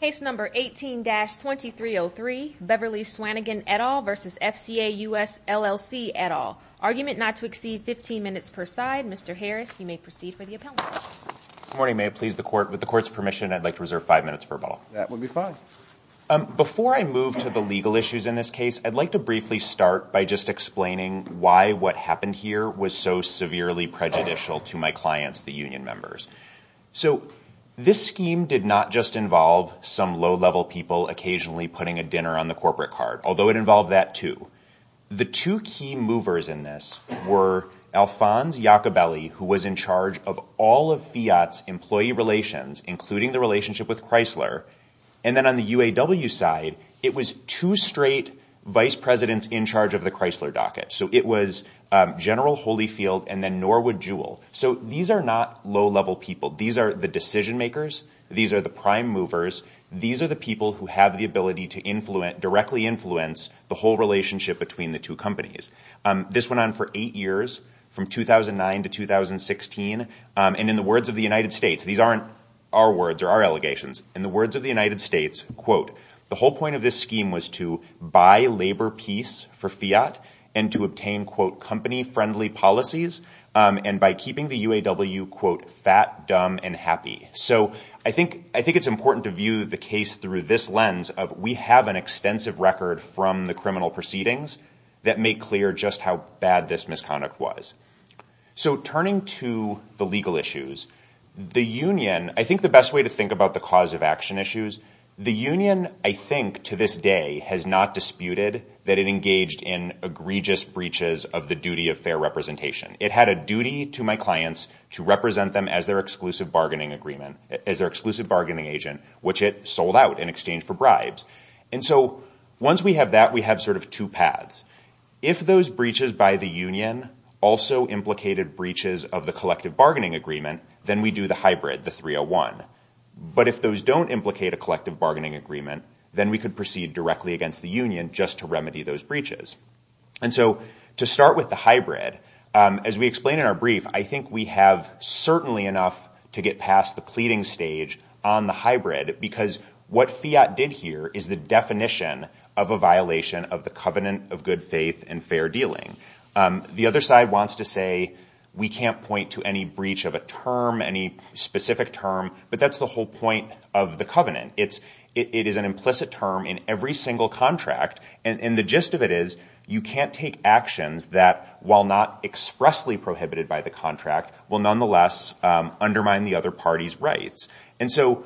Case number 18-2303, Beverly Swanigan et al. v. FCA US LLC et al. Argument not to exceed 15 minutes per side. Mr. Harris, you may proceed for the appellate. Good morning, ma'am. With the court's permission, I'd like to reserve five minutes for rebuttal. That would be fine. Before I move to the legal issues in this case, I'd like to briefly start by just explaining why what happened here was so severely prejudicial to my clients, the union members. This scheme did not just involve some low-level people occasionally putting a dinner on the corporate card, although it involved that too. The two key movers in this were Alphonse Iacobelli, who was in charge of all of Fiat's employee relations, including the relationship with Chrysler, and then on the UAW side, it was two straight vice presidents in charge of the Chrysler docket. It was General Holyfield and then Norwood Jewell. These are not low-level people. These are the decision makers. These are the prime movers. These are the people who have the ability to directly influence the whole relationship between the two companies. This went on for eight years, from 2009 to 2016. In the words of the United States, these aren't our words or our allegations. In the words of the United States, quote, the whole point of this scheme was to buy labor peace for Fiat and to obtain, quote, keeping the UAW, quote, fat, dumb, and happy. So I think it's important to view the case through this lens of we have an extensive record from the criminal proceedings that make clear just how bad this misconduct was. So turning to the legal issues, the union, I think the best way to think about the cause of action issues, the union, I think, to this day, has not disputed that it engaged in egregious breaches of the duty of fair representation. It had a duty to my clients to represent them as their exclusive bargaining agent, which it sold out in exchange for bribes. And so once we have that, we have sort of two paths. If those breaches by the union also implicated breaches of the collective bargaining agreement, then we do the hybrid, the 301. But if those don't implicate a collective bargaining agreement, And so to start with the hybrid, as we explain in our brief, I think we have certainly enough to get past the pleading stage on the hybrid because what Fiat did here is the definition of a violation of the covenant of good faith and fair dealing. The other side wants to say we can't point to any breach of a term, any specific term, but that's the whole point of the covenant. It is an implicit term in every single contract. And the gist of it is you can't take actions that, while not expressly prohibited by the contract, will nonetheless undermine the other party's rights. And so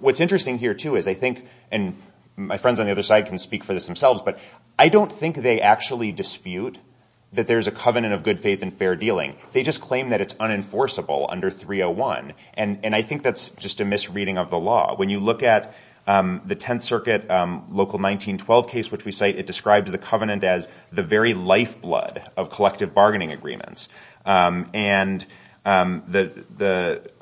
what's interesting here, too, is I think, and my friends on the other side can speak for this themselves, but I don't think they actually dispute that there's a covenant of good faith and fair dealing. They just claim that it's unenforceable under 301. And I think that's just a misreading of the law. When you look at the Tenth Circuit Local 1912 case, which we cite, it describes the covenant as the very lifeblood of collective bargaining agreements. And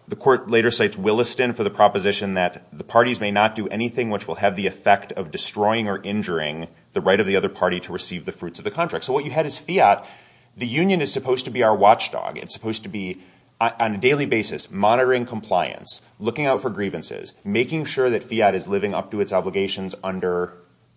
the court later cites Williston for the proposition that the parties may not do anything which will have the effect of destroying or injuring the right of the other party to receive the fruits of the contract. So what you had is Fiat. The union is supposed to be our watchdog. It's supposed to be, on a daily basis, monitoring compliance, looking out for grievances, making sure that Fiat is living up to its obligations under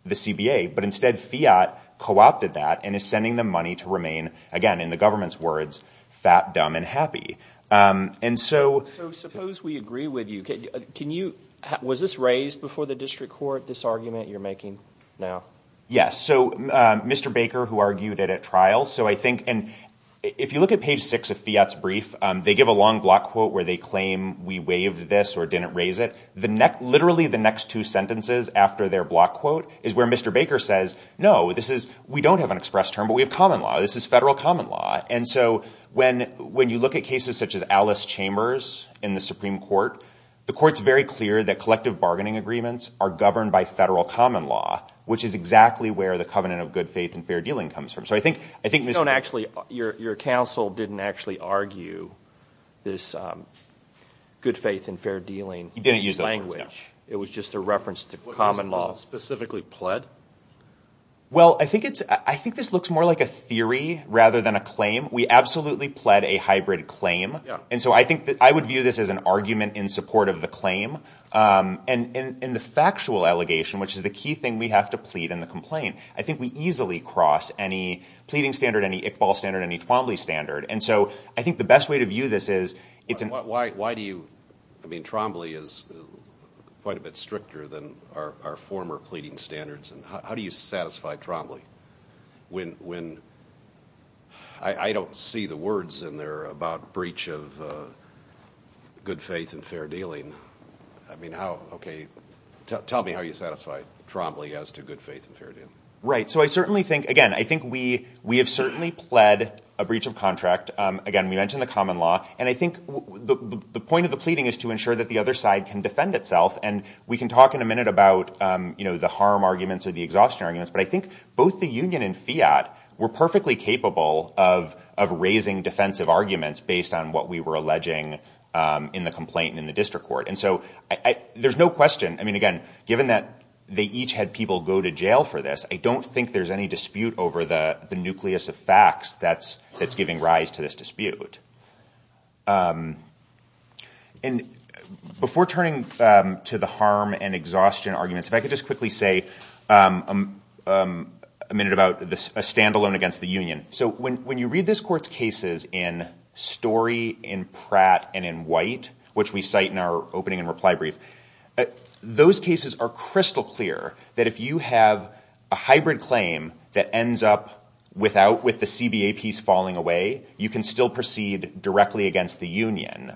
the CBA, but instead Fiat co-opted that and is sending them money to remain, again, in the government's words, fat, dumb, and happy. And so – So suppose we agree with you. Can you – was this raised before the district court, this argument you're making now? Yes. So Mr. Baker, who argued it at trial, so I think – if you look at page 6 of Fiat's brief, they give a long block quote where they claim we waived this or didn't raise it. Literally the next two sentences after their block quote is where Mr. Baker says, no, this is – we don't have an express term, but we have common law. This is federal common law. And so when you look at cases such as Alice Chambers in the Supreme Court, the court's very clear that collective bargaining agreements are governed by federal common law, which is exactly where the covenant of good faith and fair dealing comes from. So I think – You don't actually – your counsel didn't actually argue this good faith and fair dealing language. He didn't use those words, no. It was just a reference to common law. Was it specifically pled? Well, I think it's – I think this looks more like a theory rather than a claim. We absolutely pled a hybrid claim. And so I think that I would view this as an argument in support of the claim. And in the factual allegation, which is the key thing we have to plead in the complaint, I think we easily cross any pleading standard, any Iqbal standard, any Trombley standard. And so I think the best way to view this is it's an – Why do you – I mean, Trombley is quite a bit stricter than our former pleading standards. And how do you satisfy Trombley when – I don't see the words in there about breach of good faith and fair dealing. I mean, how – okay, tell me how you satisfy Trombley as to good faith and fair dealing. Right. So I certainly think – again, I think we have certainly pled a breach of contract. Again, we mentioned the common law. And I think the point of the pleading is to ensure that the other side can defend itself. And we can talk in a minute about, you know, the harm arguments or the exhaustion arguments. But I think both the union and FIAT were perfectly capable of raising defensive arguments based on what we were alleging in the complaint in the district court. And so there's no question – I mean, again, given that they each had people go to jail for this, I don't think there's any dispute over the nucleus of facts that's giving rise to this dispute. And before turning to the harm and exhaustion arguments, if I could just quickly say a minute about a standalone against the union. So when you read this court's cases in Story, in Pratt, and in White, which we cite in our opening and reply brief, those cases are crystal clear that if you have a hybrid claim that ends up without – with the CBA piece falling away, you can still proceed directly against the union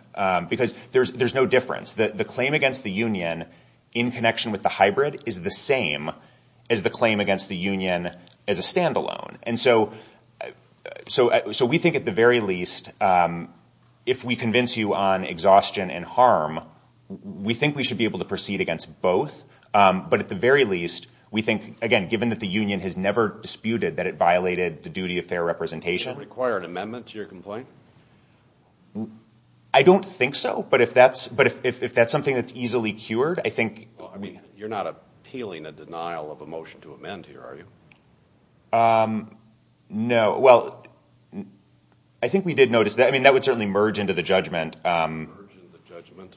because there's no difference. The claim against the union in connection with the hybrid is the same as the claim against the union as a standalone. And so we think at the very least if we convince you on exhaustion and harm, we think we should be able to proceed against both. But at the very least, we think, again, given that the union has never disputed that it violated the duty of fair representation. Does it require an amendment to your complaint? I don't think so. But if that's something that's easily cured, I think – Well, I mean, you're not appealing a denial of a motion to amend here, are you? No. Well, I think we did notice that. I mean, that would certainly merge into the judgment. Merge into the judgment.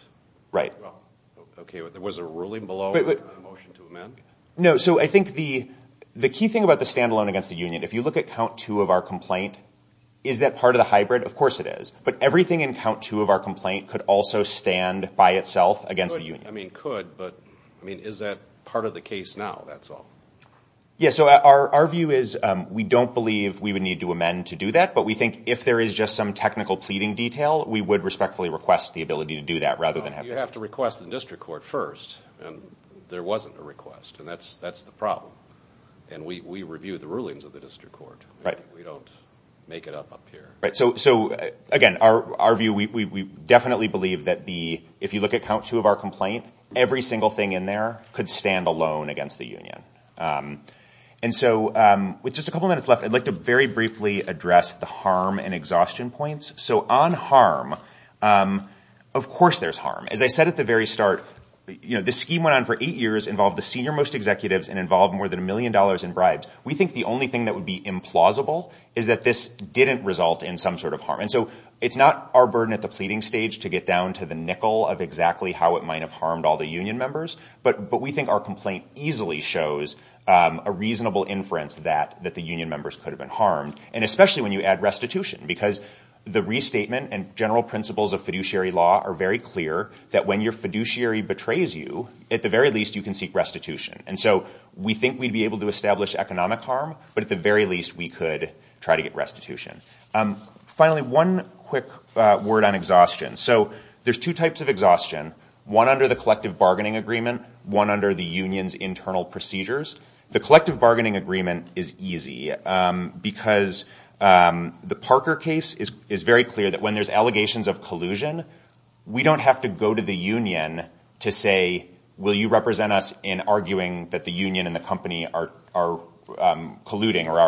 Right. Okay. Was there a ruling below a motion to amend? No. So I think the key thing about the standalone against the union, if you look at count two of our complaint, is that part of the hybrid? Of course it is. But everything in count two of our complaint could also stand by itself against the union. I mean, could. But, I mean, is that part of the case now? That's all. Yeah. So our view is we don't believe we would need to amend to do that. But we think if there is just some technical pleading detail, we would respectfully request the ability to do that rather than have – You have to request the district court first. And there wasn't a request. And that's the problem. And we review the rulings of the district court. Right. We don't make it up up here. Right. So, again, our view, we definitely believe that the – every single thing in there could stand alone against the union. And so with just a couple minutes left, I'd like to very briefly address the harm and exhaustion points. So on harm, of course there's harm. As I said at the very start, you know, this scheme went on for eight years, involved the senior most executives, and involved more than a million dollars in bribes. We think the only thing that would be implausible is that this didn't result in some sort of harm. And so it's not our burden at the pleading stage to get down to the nickel of exactly how it might have harmed all the union members. But we think our complaint easily shows a reasonable inference that the union members could have been harmed, and especially when you add restitution, because the restatement and general principles of fiduciary law are very clear that when your fiduciary betrays you, at the very least you can seek restitution. And so we think we'd be able to establish economic harm, but at the very least we could try to get restitution. Finally, one quick word on exhaustion. So there's two types of exhaustion, one under the collective bargaining agreement, one under the union's internal procedures. The collective bargaining agreement is easy, because the Parker case is very clear that when there's allegations of collusion, we don't have to go to the union to say, will you represent us in arguing that the union and the company are colluding, or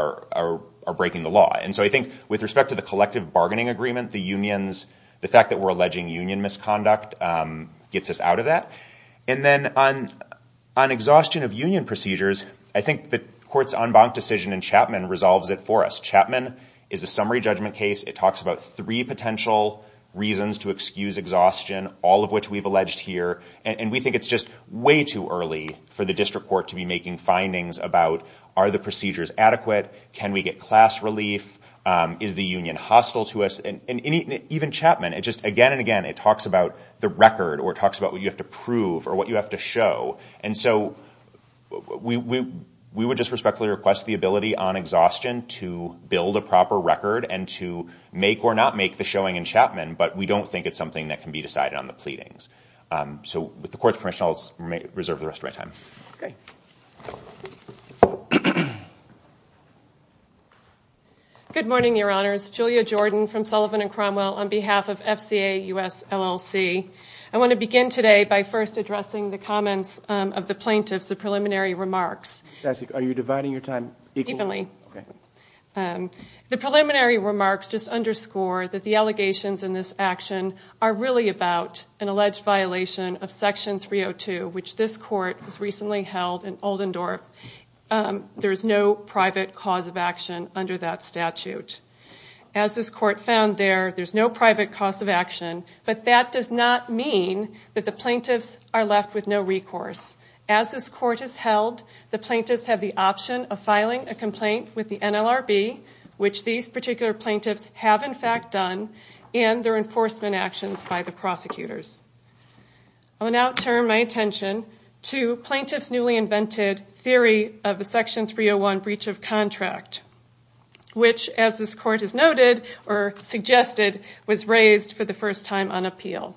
are breaking the law. And so I think with respect to the collective bargaining agreement, the fact that we're alleging union misconduct gets us out of that. And then on exhaustion of union procedures, I think the court's en banc decision in Chapman resolves it for us. Chapman is a summary judgment case. It talks about three potential reasons to excuse exhaustion, all of which we've alleged here. And we think it's just way too early for the district court to be making findings about, are the procedures adequate, can we get class relief, is the union hostile to us. Even Chapman, again and again, it talks about the record or it talks about what you have to prove or what you have to show. And so we would just respectfully request the ability on exhaustion to build a proper record and to make or not make the showing in Chapman, but we don't think it's something that can be decided on the pleadings. So with the court's permission, I'll reserve the rest of my time. Okay. Good morning, Your Honors. Julia Jordan from Sullivan and Cromwell on behalf of FCA US LLC. I want to begin today by first addressing the comments of the plaintiffs, the preliminary remarks. Are you dividing your time equally? Evenly. The preliminary remarks just underscore that the allegations in this action are really about an alleged violation of Section 302, which this court has recently held in Oldendorp. There is no private cause of action under that statute. As this court found there, there's no private cause of action, but that does not mean that the plaintiffs are left with no recourse. As this court has held, the plaintiffs have the option of filing a complaint with the NLRB, which these particular plaintiffs have, in fact, done, and their enforcement actions by the prosecutors. I will now turn my attention to plaintiffs' newly invented theory of a Section 301 breach of contract, which, as this court has noted or suggested, was raised for the first time on appeal.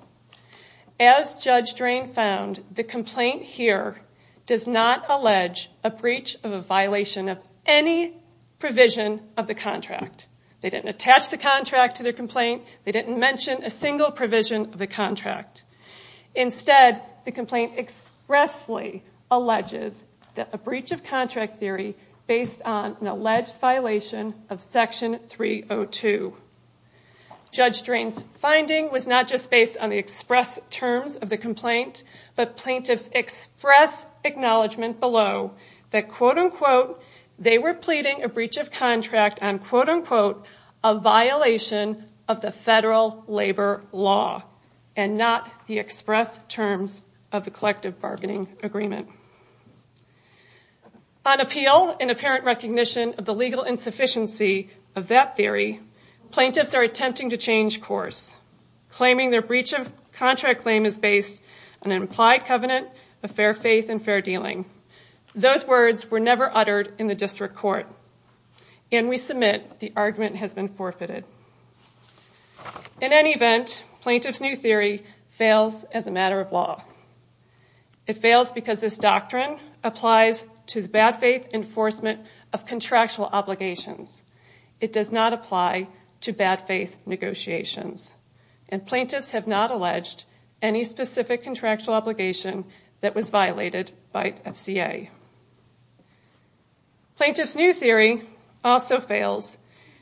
As Judge Drain found, the complaint here does not allege a breach of a violation of any provision of the contract. They didn't attach the contract to their complaint. They didn't mention a single provision of the contract. Instead, the complaint expressly alleges that a breach of contract theory based on an alleged violation of Section 302. Judge Drain's finding was not just based on the express terms of the complaint, but plaintiffs' express acknowledgment below that, quote-unquote, they were pleading a breach of contract on, quote-unquote, a violation of the federal labor law and not the express terms of the collective bargaining agreement. On appeal and apparent recognition of the legal insufficiency of that theory, plaintiffs are attempting to change course, claiming their breach of contract claim is based on an implied covenant of fair faith and fair dealing. Those words were never uttered in the district court, and we submit the argument has been forfeited. In any event, plaintiffs' new theory fails as a matter of law. It fails because this doctrine applies to the bad faith enforcement of contractual obligations. It does not apply to bad faith negotiations, and plaintiffs have not alleged any specific contractual obligation that was violated by FCA. Plaintiffs' new theory also fails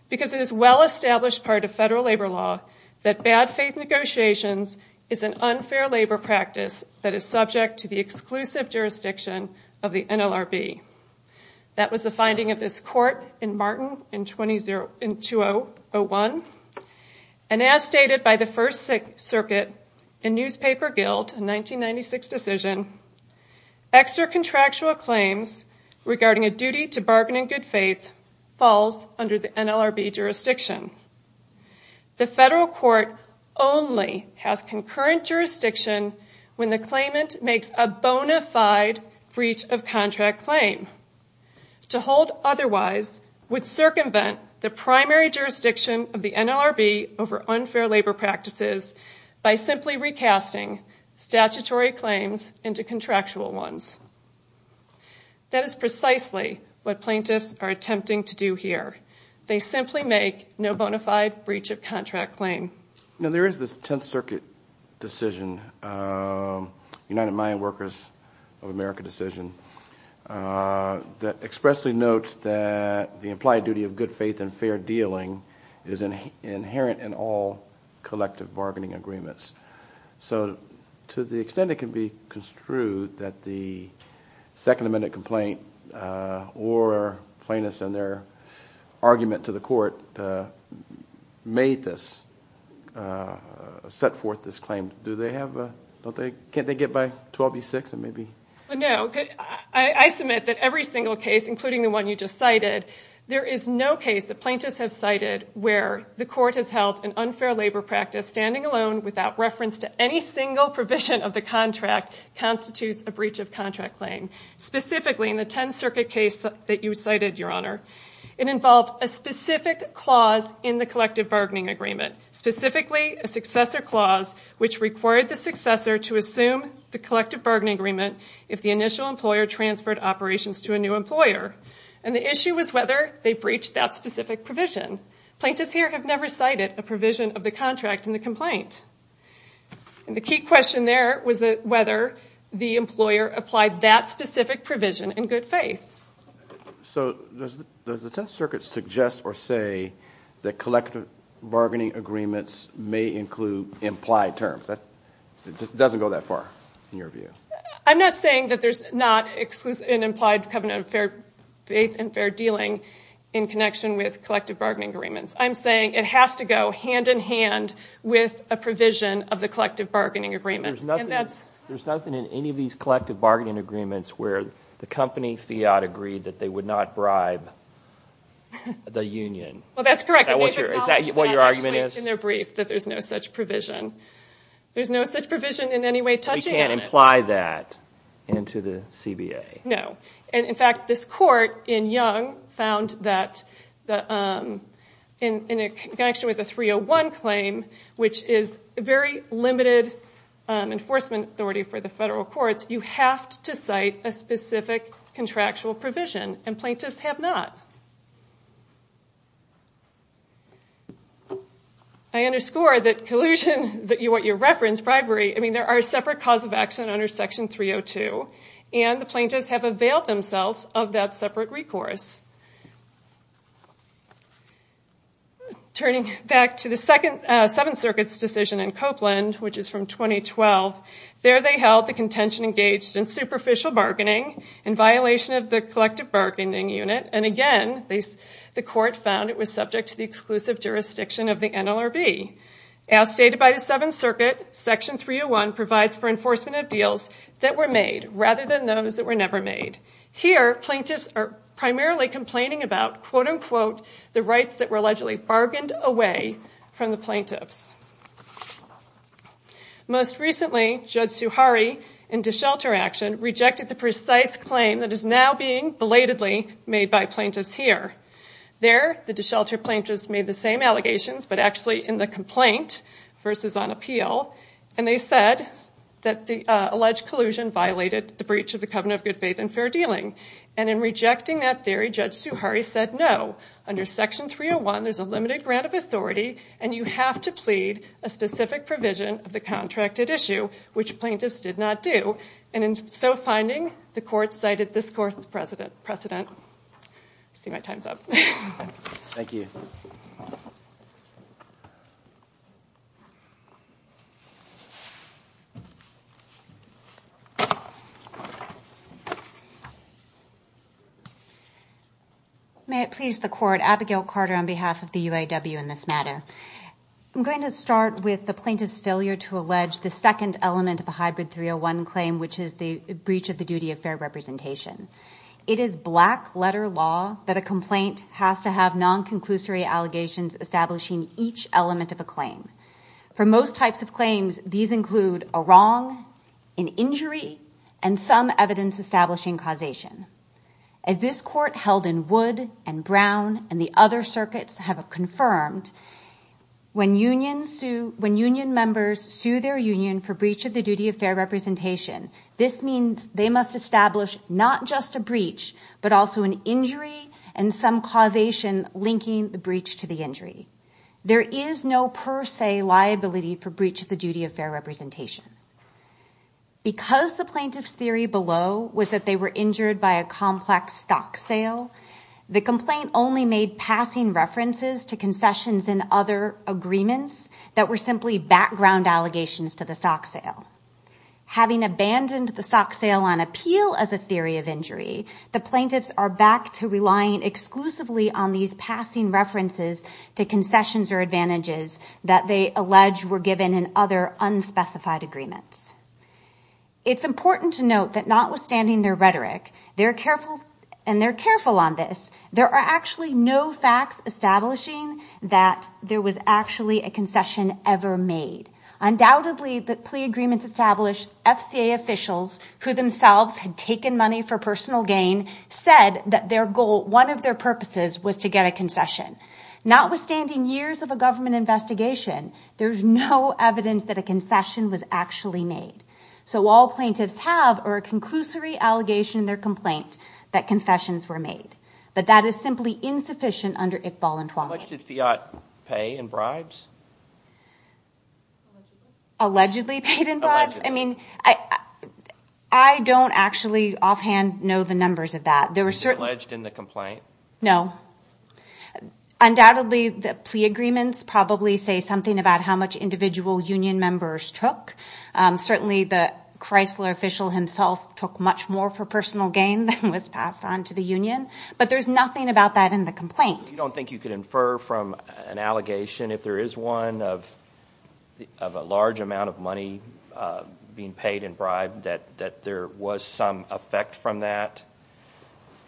because it is a well-established part of federal labor law that bad faith negotiations is an unfair labor practice that is subject to the exclusive jurisdiction of the NLRB. That was the finding of this court in Martin in 2001, and as stated by the First Circuit and Newspaper Guild in 1996 decision, extra-contractual claims regarding a duty to bargain in good faith falls under the NLRB jurisdiction. The federal court only has concurrent jurisdiction when the claimant makes a bona fide breach of contract claim. To hold otherwise would circumvent the primary jurisdiction of the NLRB over unfair labor practices by simply recasting statutory claims into contractual ones. That is precisely what plaintiffs are attempting to do here. They simply make no bona fide breach of contract claim. Now there is this Tenth Circuit decision, United Mine Workers of America decision, that expressly notes that the implied duty of good faith and fair dealing is inherent in all collective bargaining agreements. So to the extent it can be construed that the Second Amendment complaint or plaintiffs and their argument to the court made this, set forth this claim, do they have, can't they get by 12B6 and maybe? No. I submit that every single case, including the one you just cited, there is no case that plaintiffs have cited where the court has held an unfair labor practice standing alone without reference to any single provision of the contract constitutes a breach of contract claim. Specifically, in the Tenth Circuit case that you cited, Your Honor, it involved a specific clause in the collective bargaining agreement. Specifically, a successor clause which required the successor to assume the collective bargaining agreement if the initial employer transferred operations to a new employer. And the issue was whether they breached that specific provision. Plaintiffs here have never cited a provision of the contract in the complaint. And the key question there was whether the employer applied that specific provision in good faith. So does the Tenth Circuit suggest or say that collective bargaining agreements may include implied terms? It doesn't go that far in your view. I'm not saying that there's not an implied covenant of faith and fair dealing in connection with collective bargaining agreements. I'm saying it has to go hand in hand with a provision of the collective bargaining agreement. There's nothing in any of these collective bargaining agreements where the company, Fiat, agreed that they would not bribe the union. Well, that's correct. Is that what your argument is? In their brief that there's no such provision. There's no such provision in any way touching on it. You can't imply that into the CBA. No. And, in fact, this court in Young found that in connection with the 301 claim, which is very limited enforcement authority for the federal courts, you have to cite a specific contractual provision. And plaintiffs have not. I underscore that collusion that you want your reference, bribery. I mean, there are separate cause of accident under Section 302. And the plaintiffs have availed themselves of that separate recourse. Turning back to the Seventh Circuit's decision in Copeland, which is from 2012, there they held the contention engaged in superficial bargaining in violation of the collective bargaining unit. And, again, the court found it was subject to the exclusive jurisdiction of the NLRB. As stated by the Seventh Circuit, Section 301 provides for enforcement of deals that were made rather than those that were never made. Here, plaintiffs are primarily complaining about, quote, unquote, the rights that were allegedly bargained away from the plaintiffs. Most recently, Judge Suhari, in DeShelter action, rejected the precise claim that is now being belatedly made by plaintiffs here. There, the DeShelter plaintiffs made the same allegations but actually in the complaint versus on appeal. And they said that the alleged collusion violated the breach of the covenant of good faith and fair dealing. And in rejecting that theory, Judge Suhari said no. Under Section 301, there's a limited grant of authority and you have to plead a specific provision of the contracted issue, which plaintiffs did not do. And in so finding, the court cited this court's precedent. I see my time's up. Thank you. May it please the court, Abigail Carter on behalf of the UAW in this matter. I'm going to start with the plaintiff's failure to allege the second element of a hybrid 301 claim, which is the breach of the duty of fair representation. It is black letter law that a complaint has to have non-conclusory allegations establishing each element of a claim. For most types of claims, these include a wrong, an injury, and some evidence establishing causation. As this court held in Wood and Brown and the other circuits have confirmed, when union members sue their union for breach of the duty of fair representation, this means they must establish not just a breach, but also an injury and some causation linking the breach to the injury. There is no per se liability for breach of the duty of fair representation. Because the plaintiff's theory below was that they were injured by a complex stock sale, the complaint only made passing references to concessions and other agreements that were simply background allegations to the stock sale. Having abandoned the stock sale on appeal as a theory of injury, the plaintiffs are back to relying exclusively on these passing references to concessions or advantages that they allege were given in other unspecified agreements. It's important to note that notwithstanding their rhetoric, and they're careful on this, there are actually no facts establishing that there was actually a concession ever made. Undoubtedly, the plea agreements established FCA officials, who themselves had taken money for personal gain, said that their goal, one of their purposes, was to get a concession. Notwithstanding years of a government investigation, there's no evidence that a concession was actually made. So all plaintiffs have are a conclusory allegation in their complaint that confessions were made. But that is simply insufficient under ICBAL and TWALA. How much did Fiat pay in bribes? Allegedly paid in bribes? Allegedly. I mean, I don't actually offhand know the numbers of that. It was alleged in the complaint? No. Undoubtedly, the plea agreements probably say something about how much individual union members took. Certainly, the Chrysler official himself took much more for personal gain than was passed on to the union. But there's nothing about that in the complaint. You don't think you could infer from an allegation, if there is one of a large amount of money being paid in bribes, that there was some effect from that?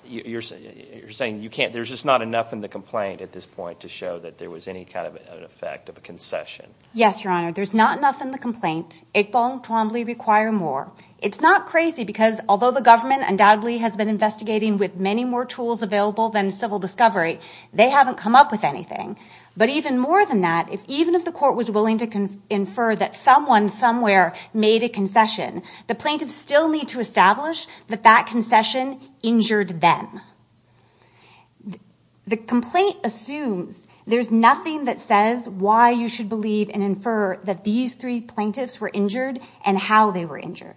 You're saying there's just not enough in the complaint at this point to show that there was any kind of an effect of a concession? Yes, Your Honor. There's not enough in the complaint. ICBAL and TWAMBLEE require more. It's not crazy because although the government undoubtedly has been investigating with many more tools available than civil discovery, they haven't come up with anything. But even more than that, even if the court was willing to infer that someone somewhere made a concession, the plaintiffs still need to establish that that concession injured them. The complaint assumes there's nothing that says why you should believe and infer that these three plaintiffs were injured and how they were injured.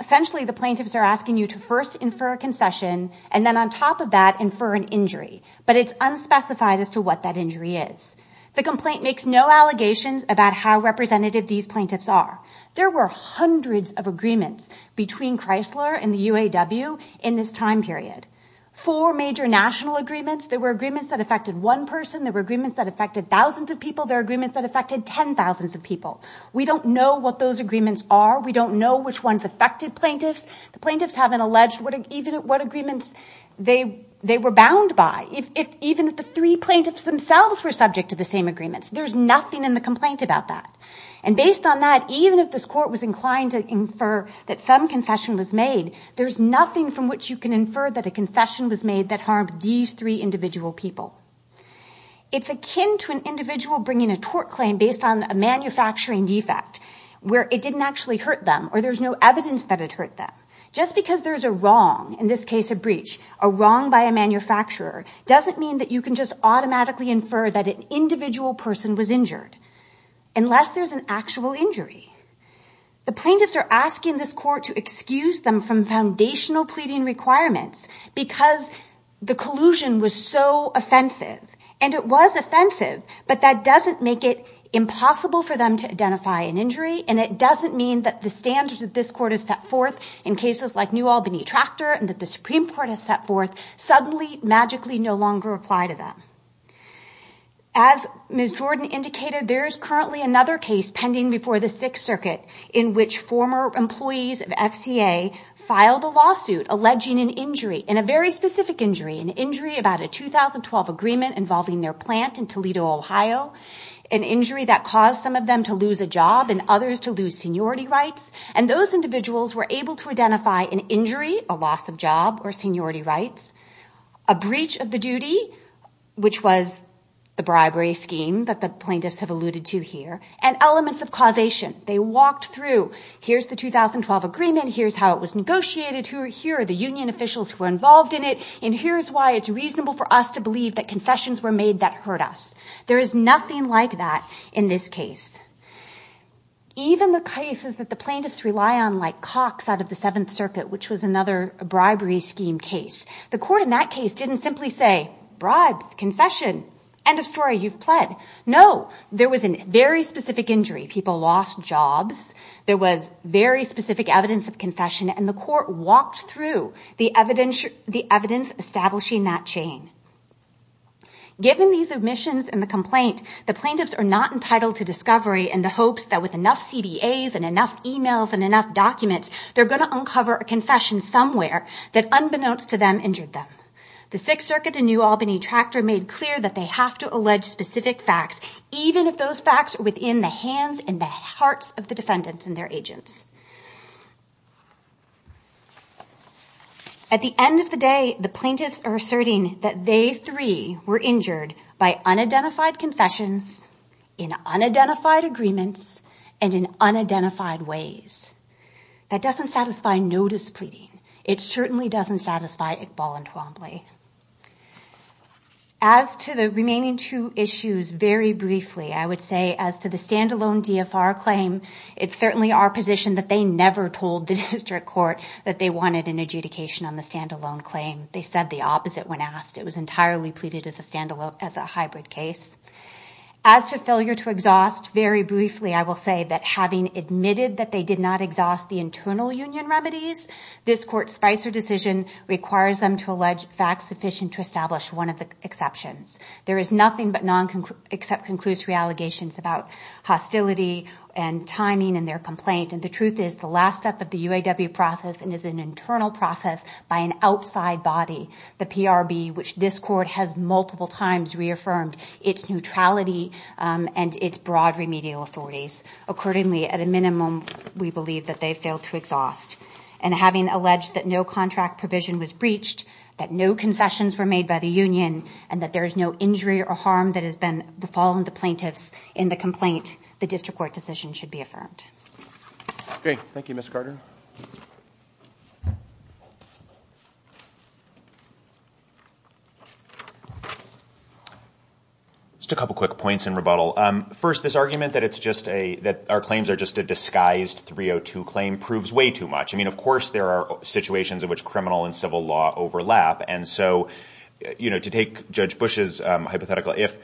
Essentially, the plaintiffs are asking you to first infer a concession and then on top of that, infer an injury. But it's unspecified as to what that injury is. The complaint makes no allegations about how representative these plaintiffs are. There were hundreds of agreements between Chrysler and the UAW in this time period. Four major national agreements. There were agreements that affected one person. There were agreements that affected thousands of people. There were agreements that affected 10,000s of people. We don't know what those agreements are. We don't know which ones affected plaintiffs. The plaintiffs haven't alleged even what agreements they were bound by. Even if the three plaintiffs themselves were subject to the same agreements, there's nothing in the complaint about that. And based on that, even if this court was inclined to infer that some concession was made, there's nothing from which you can infer that a concession was made that harmed these three individual people. It's akin to an individual bringing a tort claim based on a manufacturing defect where it didn't actually hurt them or there's no evidence that it hurt them. Just because there's a wrong, in this case a breach, a wrong by a manufacturer, doesn't mean that you can just automatically infer that an individual person was injured. Unless there's an actual injury. The plaintiffs are asking this court to excuse them from foundational pleading requirements because the collusion was so offensive. And it was offensive, but that doesn't make it impossible for them to identify an injury and it doesn't mean that the standards that this court has set forth in cases like New Albany Tractor and that the Supreme Court has set forth suddenly, magically no longer apply to them. As Ms. Jordan indicated, there is currently another case pending before the Sixth Circuit in which former employees of FCA filed a lawsuit alleging an injury, and a very specific injury, an injury about a 2012 agreement involving their plant in Toledo, Ohio, an injury that caused some of them to lose a job and others to lose seniority rights. And those individuals were able to identify an injury, a loss of job or seniority rights, a breach of the duty, which was the bribery scheme that the plaintiffs have alluded to here, and elements of causation. They walked through, here's the 2012 agreement, here's how it was negotiated, here are the union officials who were involved in it, and here's why it's reasonable for us to believe that confessions were made that hurt us. There is nothing like that in this case. Even the cases that the plaintiffs rely on, like Cox out of the Seventh Circuit, which was another bribery scheme case, the court in that case didn't simply say, bribes, concession, end of story, you've pled. No, there was a very specific injury. People lost jobs. There was very specific evidence of confession, and the court walked through the evidence establishing that chain. Given these omissions in the complaint, the plaintiffs are not entitled to discovery in the hopes that with enough CBAs and enough emails and enough documents, they're going to uncover a confession somewhere that, unbeknownst to them, injured them. The Sixth Circuit and New Albany Tractor made clear that they have to allege specific facts, even if those facts are within the hands and the hearts of the defendants and their agents. At the end of the day, the plaintiffs are asserting that they, three, were injured by unidentified confessions, in unidentified agreements, and in unidentified ways. That doesn't satisfy no displeasing. It certainly doesn't satisfy Iqbal and Twombly. As to the remaining two issues, very briefly, I would say as to the stand-alone DFR claim, it's certainly our position that they never told the district court that they wanted an adjudication on the stand-alone claim. They said the opposite when asked. It was entirely pleaded as a hybrid case. As to failure to exhaust, very briefly I will say that, having admitted that they did not exhaust the internal union remedies, this court's Spicer decision requires them to allege facts sufficient to establish one of the exceptions. There is nothing but non-conclusive allegations about hostility and timing in their complaint, and the truth is the last step of the UAW process is an internal process by an outside body, the PRB, which this court has multiple times reaffirmed its neutrality and its broad remedial authorities. Accordingly, at a minimum, we believe that they failed to exhaust. And having alleged that no contract provision was breached, that no concessions were made by the union, and that there is no injury or harm that has been the fall of the plaintiffs in the complaint, the district court decision should be affirmed. Great. Thank you, Ms. Carter. Just a couple quick points in rebuttal. First, this argument that our claims are just a disguised 302 claim proves way too much. I mean, of course there are situations in which criminal and civil law overlap, and so to take Judge Bush's hypothetical, if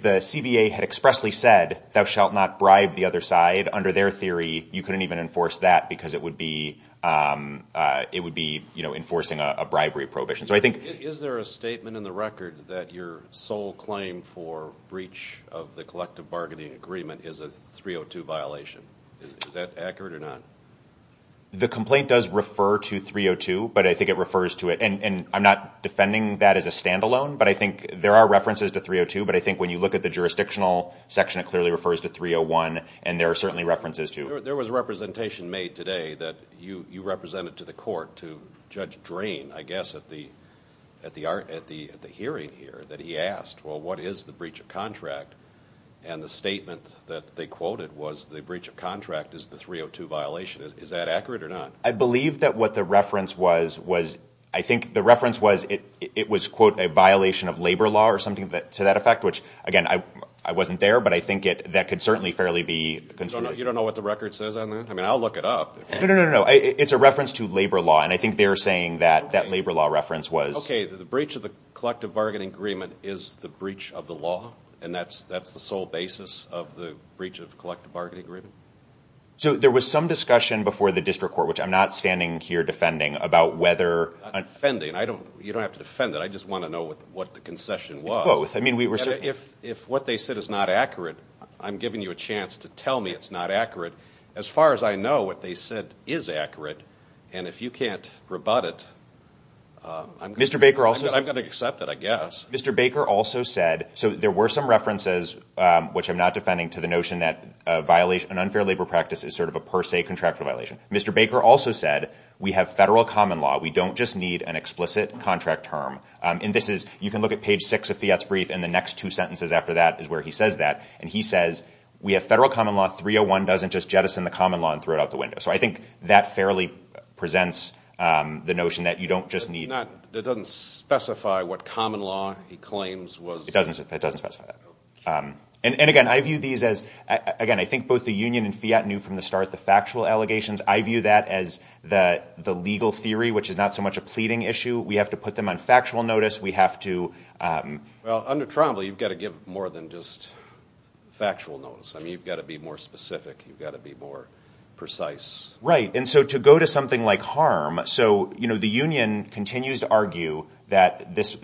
the CBA had expressly said, thou shalt not bribe the other side, under their theory, you couldn't even enforce that because it would be enforcing a bribery prohibition. Is there a statement in the record that your sole claim for breach of the collective bargaining agreement is a 302 violation? Is that accurate or not? The complaint does refer to 302, but I think it refers to it. And I'm not defending that as a standalone, but I think there are references to 302, but I think when you look at the jurisdictional section, it clearly refers to 301, and there are certainly references to it. There was a representation made today that you represented to the court, to Judge Drain, I guess, at the hearing here that he asked, well, what is the breach of contract? And the statement that they quoted was the breach of contract is the 302 violation. Is that accurate or not? I believe that what the reference was was, I think the reference was it was, quote, a violation of labor law or something to that effect, which, again, I wasn't there, but I think that could certainly fairly be construed. You don't know what the record says on that? I mean, I'll look it up. No, no, no. It's a reference to labor law, and I think they're saying that that labor law reference was. Okay. The breach of the collective bargaining agreement is the breach of the law, and that's the sole basis of the breach of collective bargaining agreement? So there was some discussion before the district court, which I'm not standing here defending, about whether... I'm not defending. You don't have to defend it. I just want to know what the concession was. It's both. If what they said is not accurate, I'm giving you a chance to tell me it's not accurate. As far as I know, what they said is accurate, and if you can't rebut it, I'm going to accept it, I guess. Mr. Baker also said, so there were some references, which I'm not defending, to the notion that an unfair labor practice is sort of a per se contractual violation. Mr. Baker also said we have federal common law. We don't just need an explicit contract term. You can look at page 6 of Fiat's brief, and the next two sentences after that is where he says that. And he says we have federal common law. 301 doesn't just jettison the common law and throw it out the window. So I think that fairly presents the notion that you don't just need... That doesn't specify what common law he claims was... It doesn't specify that. And, again, I view these as... Again, I think both the union and Fiat knew from the start the factual allegations. I view that as the legal theory, which is not so much a pleading issue. We have to put them on factual notice. We have to... Well, under Tromble, you've got to give more than just factual notice. I mean, you've got to be more specific. You've got to be more precise. Right, and so to go to something like harm... So, you know, the union continues to argue that this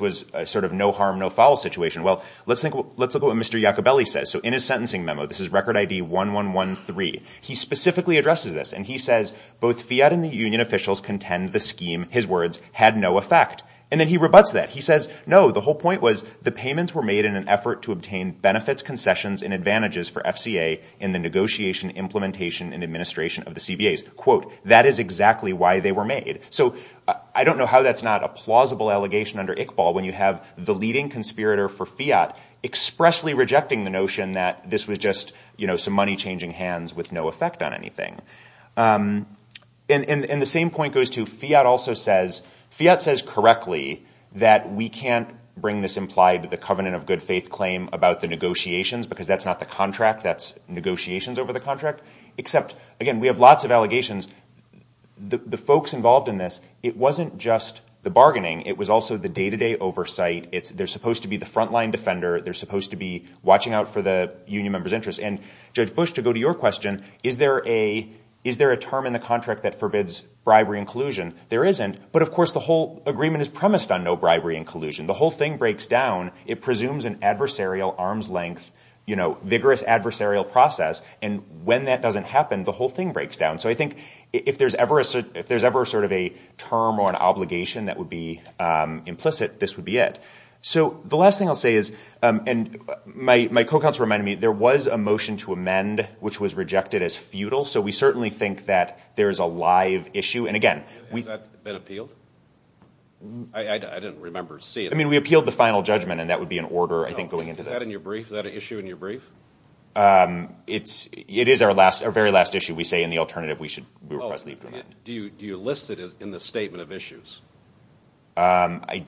was a sort of no harm, no foul situation. Well, let's look at what Mr. Iacobelli says. So in his sentencing memo, this is Record ID 1113, he specifically addresses this. And he says, both Fiat and the union officials contend the scheme, his words, had no effect. And then he rebuts that. He says, no, the whole point was the payments were made in an effort to obtain benefits, concessions, and advantages for FCA in the negotiation, implementation, and administration of the CBAs. Quote, that is exactly why they were made. So I don't know how that's not a plausible allegation under Iqbal when you have the leading conspirator for Fiat expressly rejecting the notion that this was just, you know, some money changing hands with no effect on anything. And the same point goes to Fiat also says, Fiat says correctly that we can't bring this implied to the covenant of good faith claim about the negotiations because that's not the contract. That's negotiations over the contract. Except, again, we have lots of allegations. The folks involved in this, it wasn't just the bargaining. It was also the day-to-day oversight. They're supposed to be the frontline defender. They're supposed to be watching out for the union members' interests. And Judge Bush, to go to your question, is there a term in the contract that forbids bribery and collusion? There isn't. But, of course, the whole agreement is premised on no bribery and collusion. The whole thing breaks down. It presumes an adversarial arm's length, you know, vigorous adversarial process. And when that doesn't happen, the whole thing breaks down. So I think if there's ever sort of a term or an obligation that would be implicit, this would be it. So the last thing I'll say is, and my co-counsel reminded me, there was a motion to amend which was rejected as futile. So we certainly think that there's a live issue. And, again, we – Has that been appealed? I didn't remember seeing it. I mean, we appealed the final judgment, and that would be in order, I think, going into that. Is that in your brief? Is that an issue in your brief? It is our very last issue. We say in the alternative we request leave to amend. Do you list it in the statement of issues? I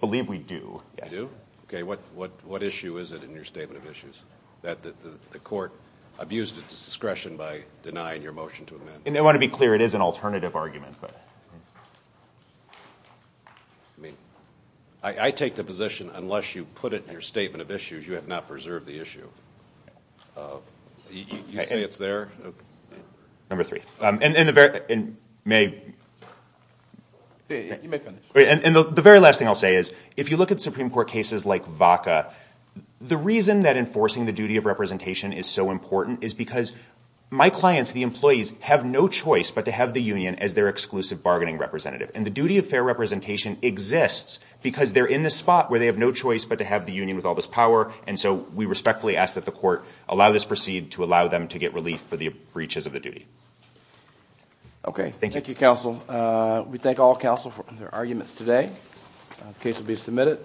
believe we do, yes. You do? Okay. What issue is it in your statement of issues that the court abused its discretion by denying your motion to amend? And I want to be clear, it is an alternative argument. I mean, I take the position unless you put it in your statement of issues, you have not preserved the issue. You say it's there? Number three. And may – You may finish. And the very last thing I'll say is if you look at Supreme Court cases like VACA, the reason that enforcing the duty of representation is so important is because my clients, the employees, have no choice but to have the union as their exclusive bargaining representative. And the duty of fair representation exists because they're in this spot where they have no choice but to have the union with all this power, and so we respectfully ask that the court allow this proceed to allow them to get relief for the breaches of the duty. Okay. Thank you. Thank you, counsel. We thank all counsel for their arguments today. The case will be submitted.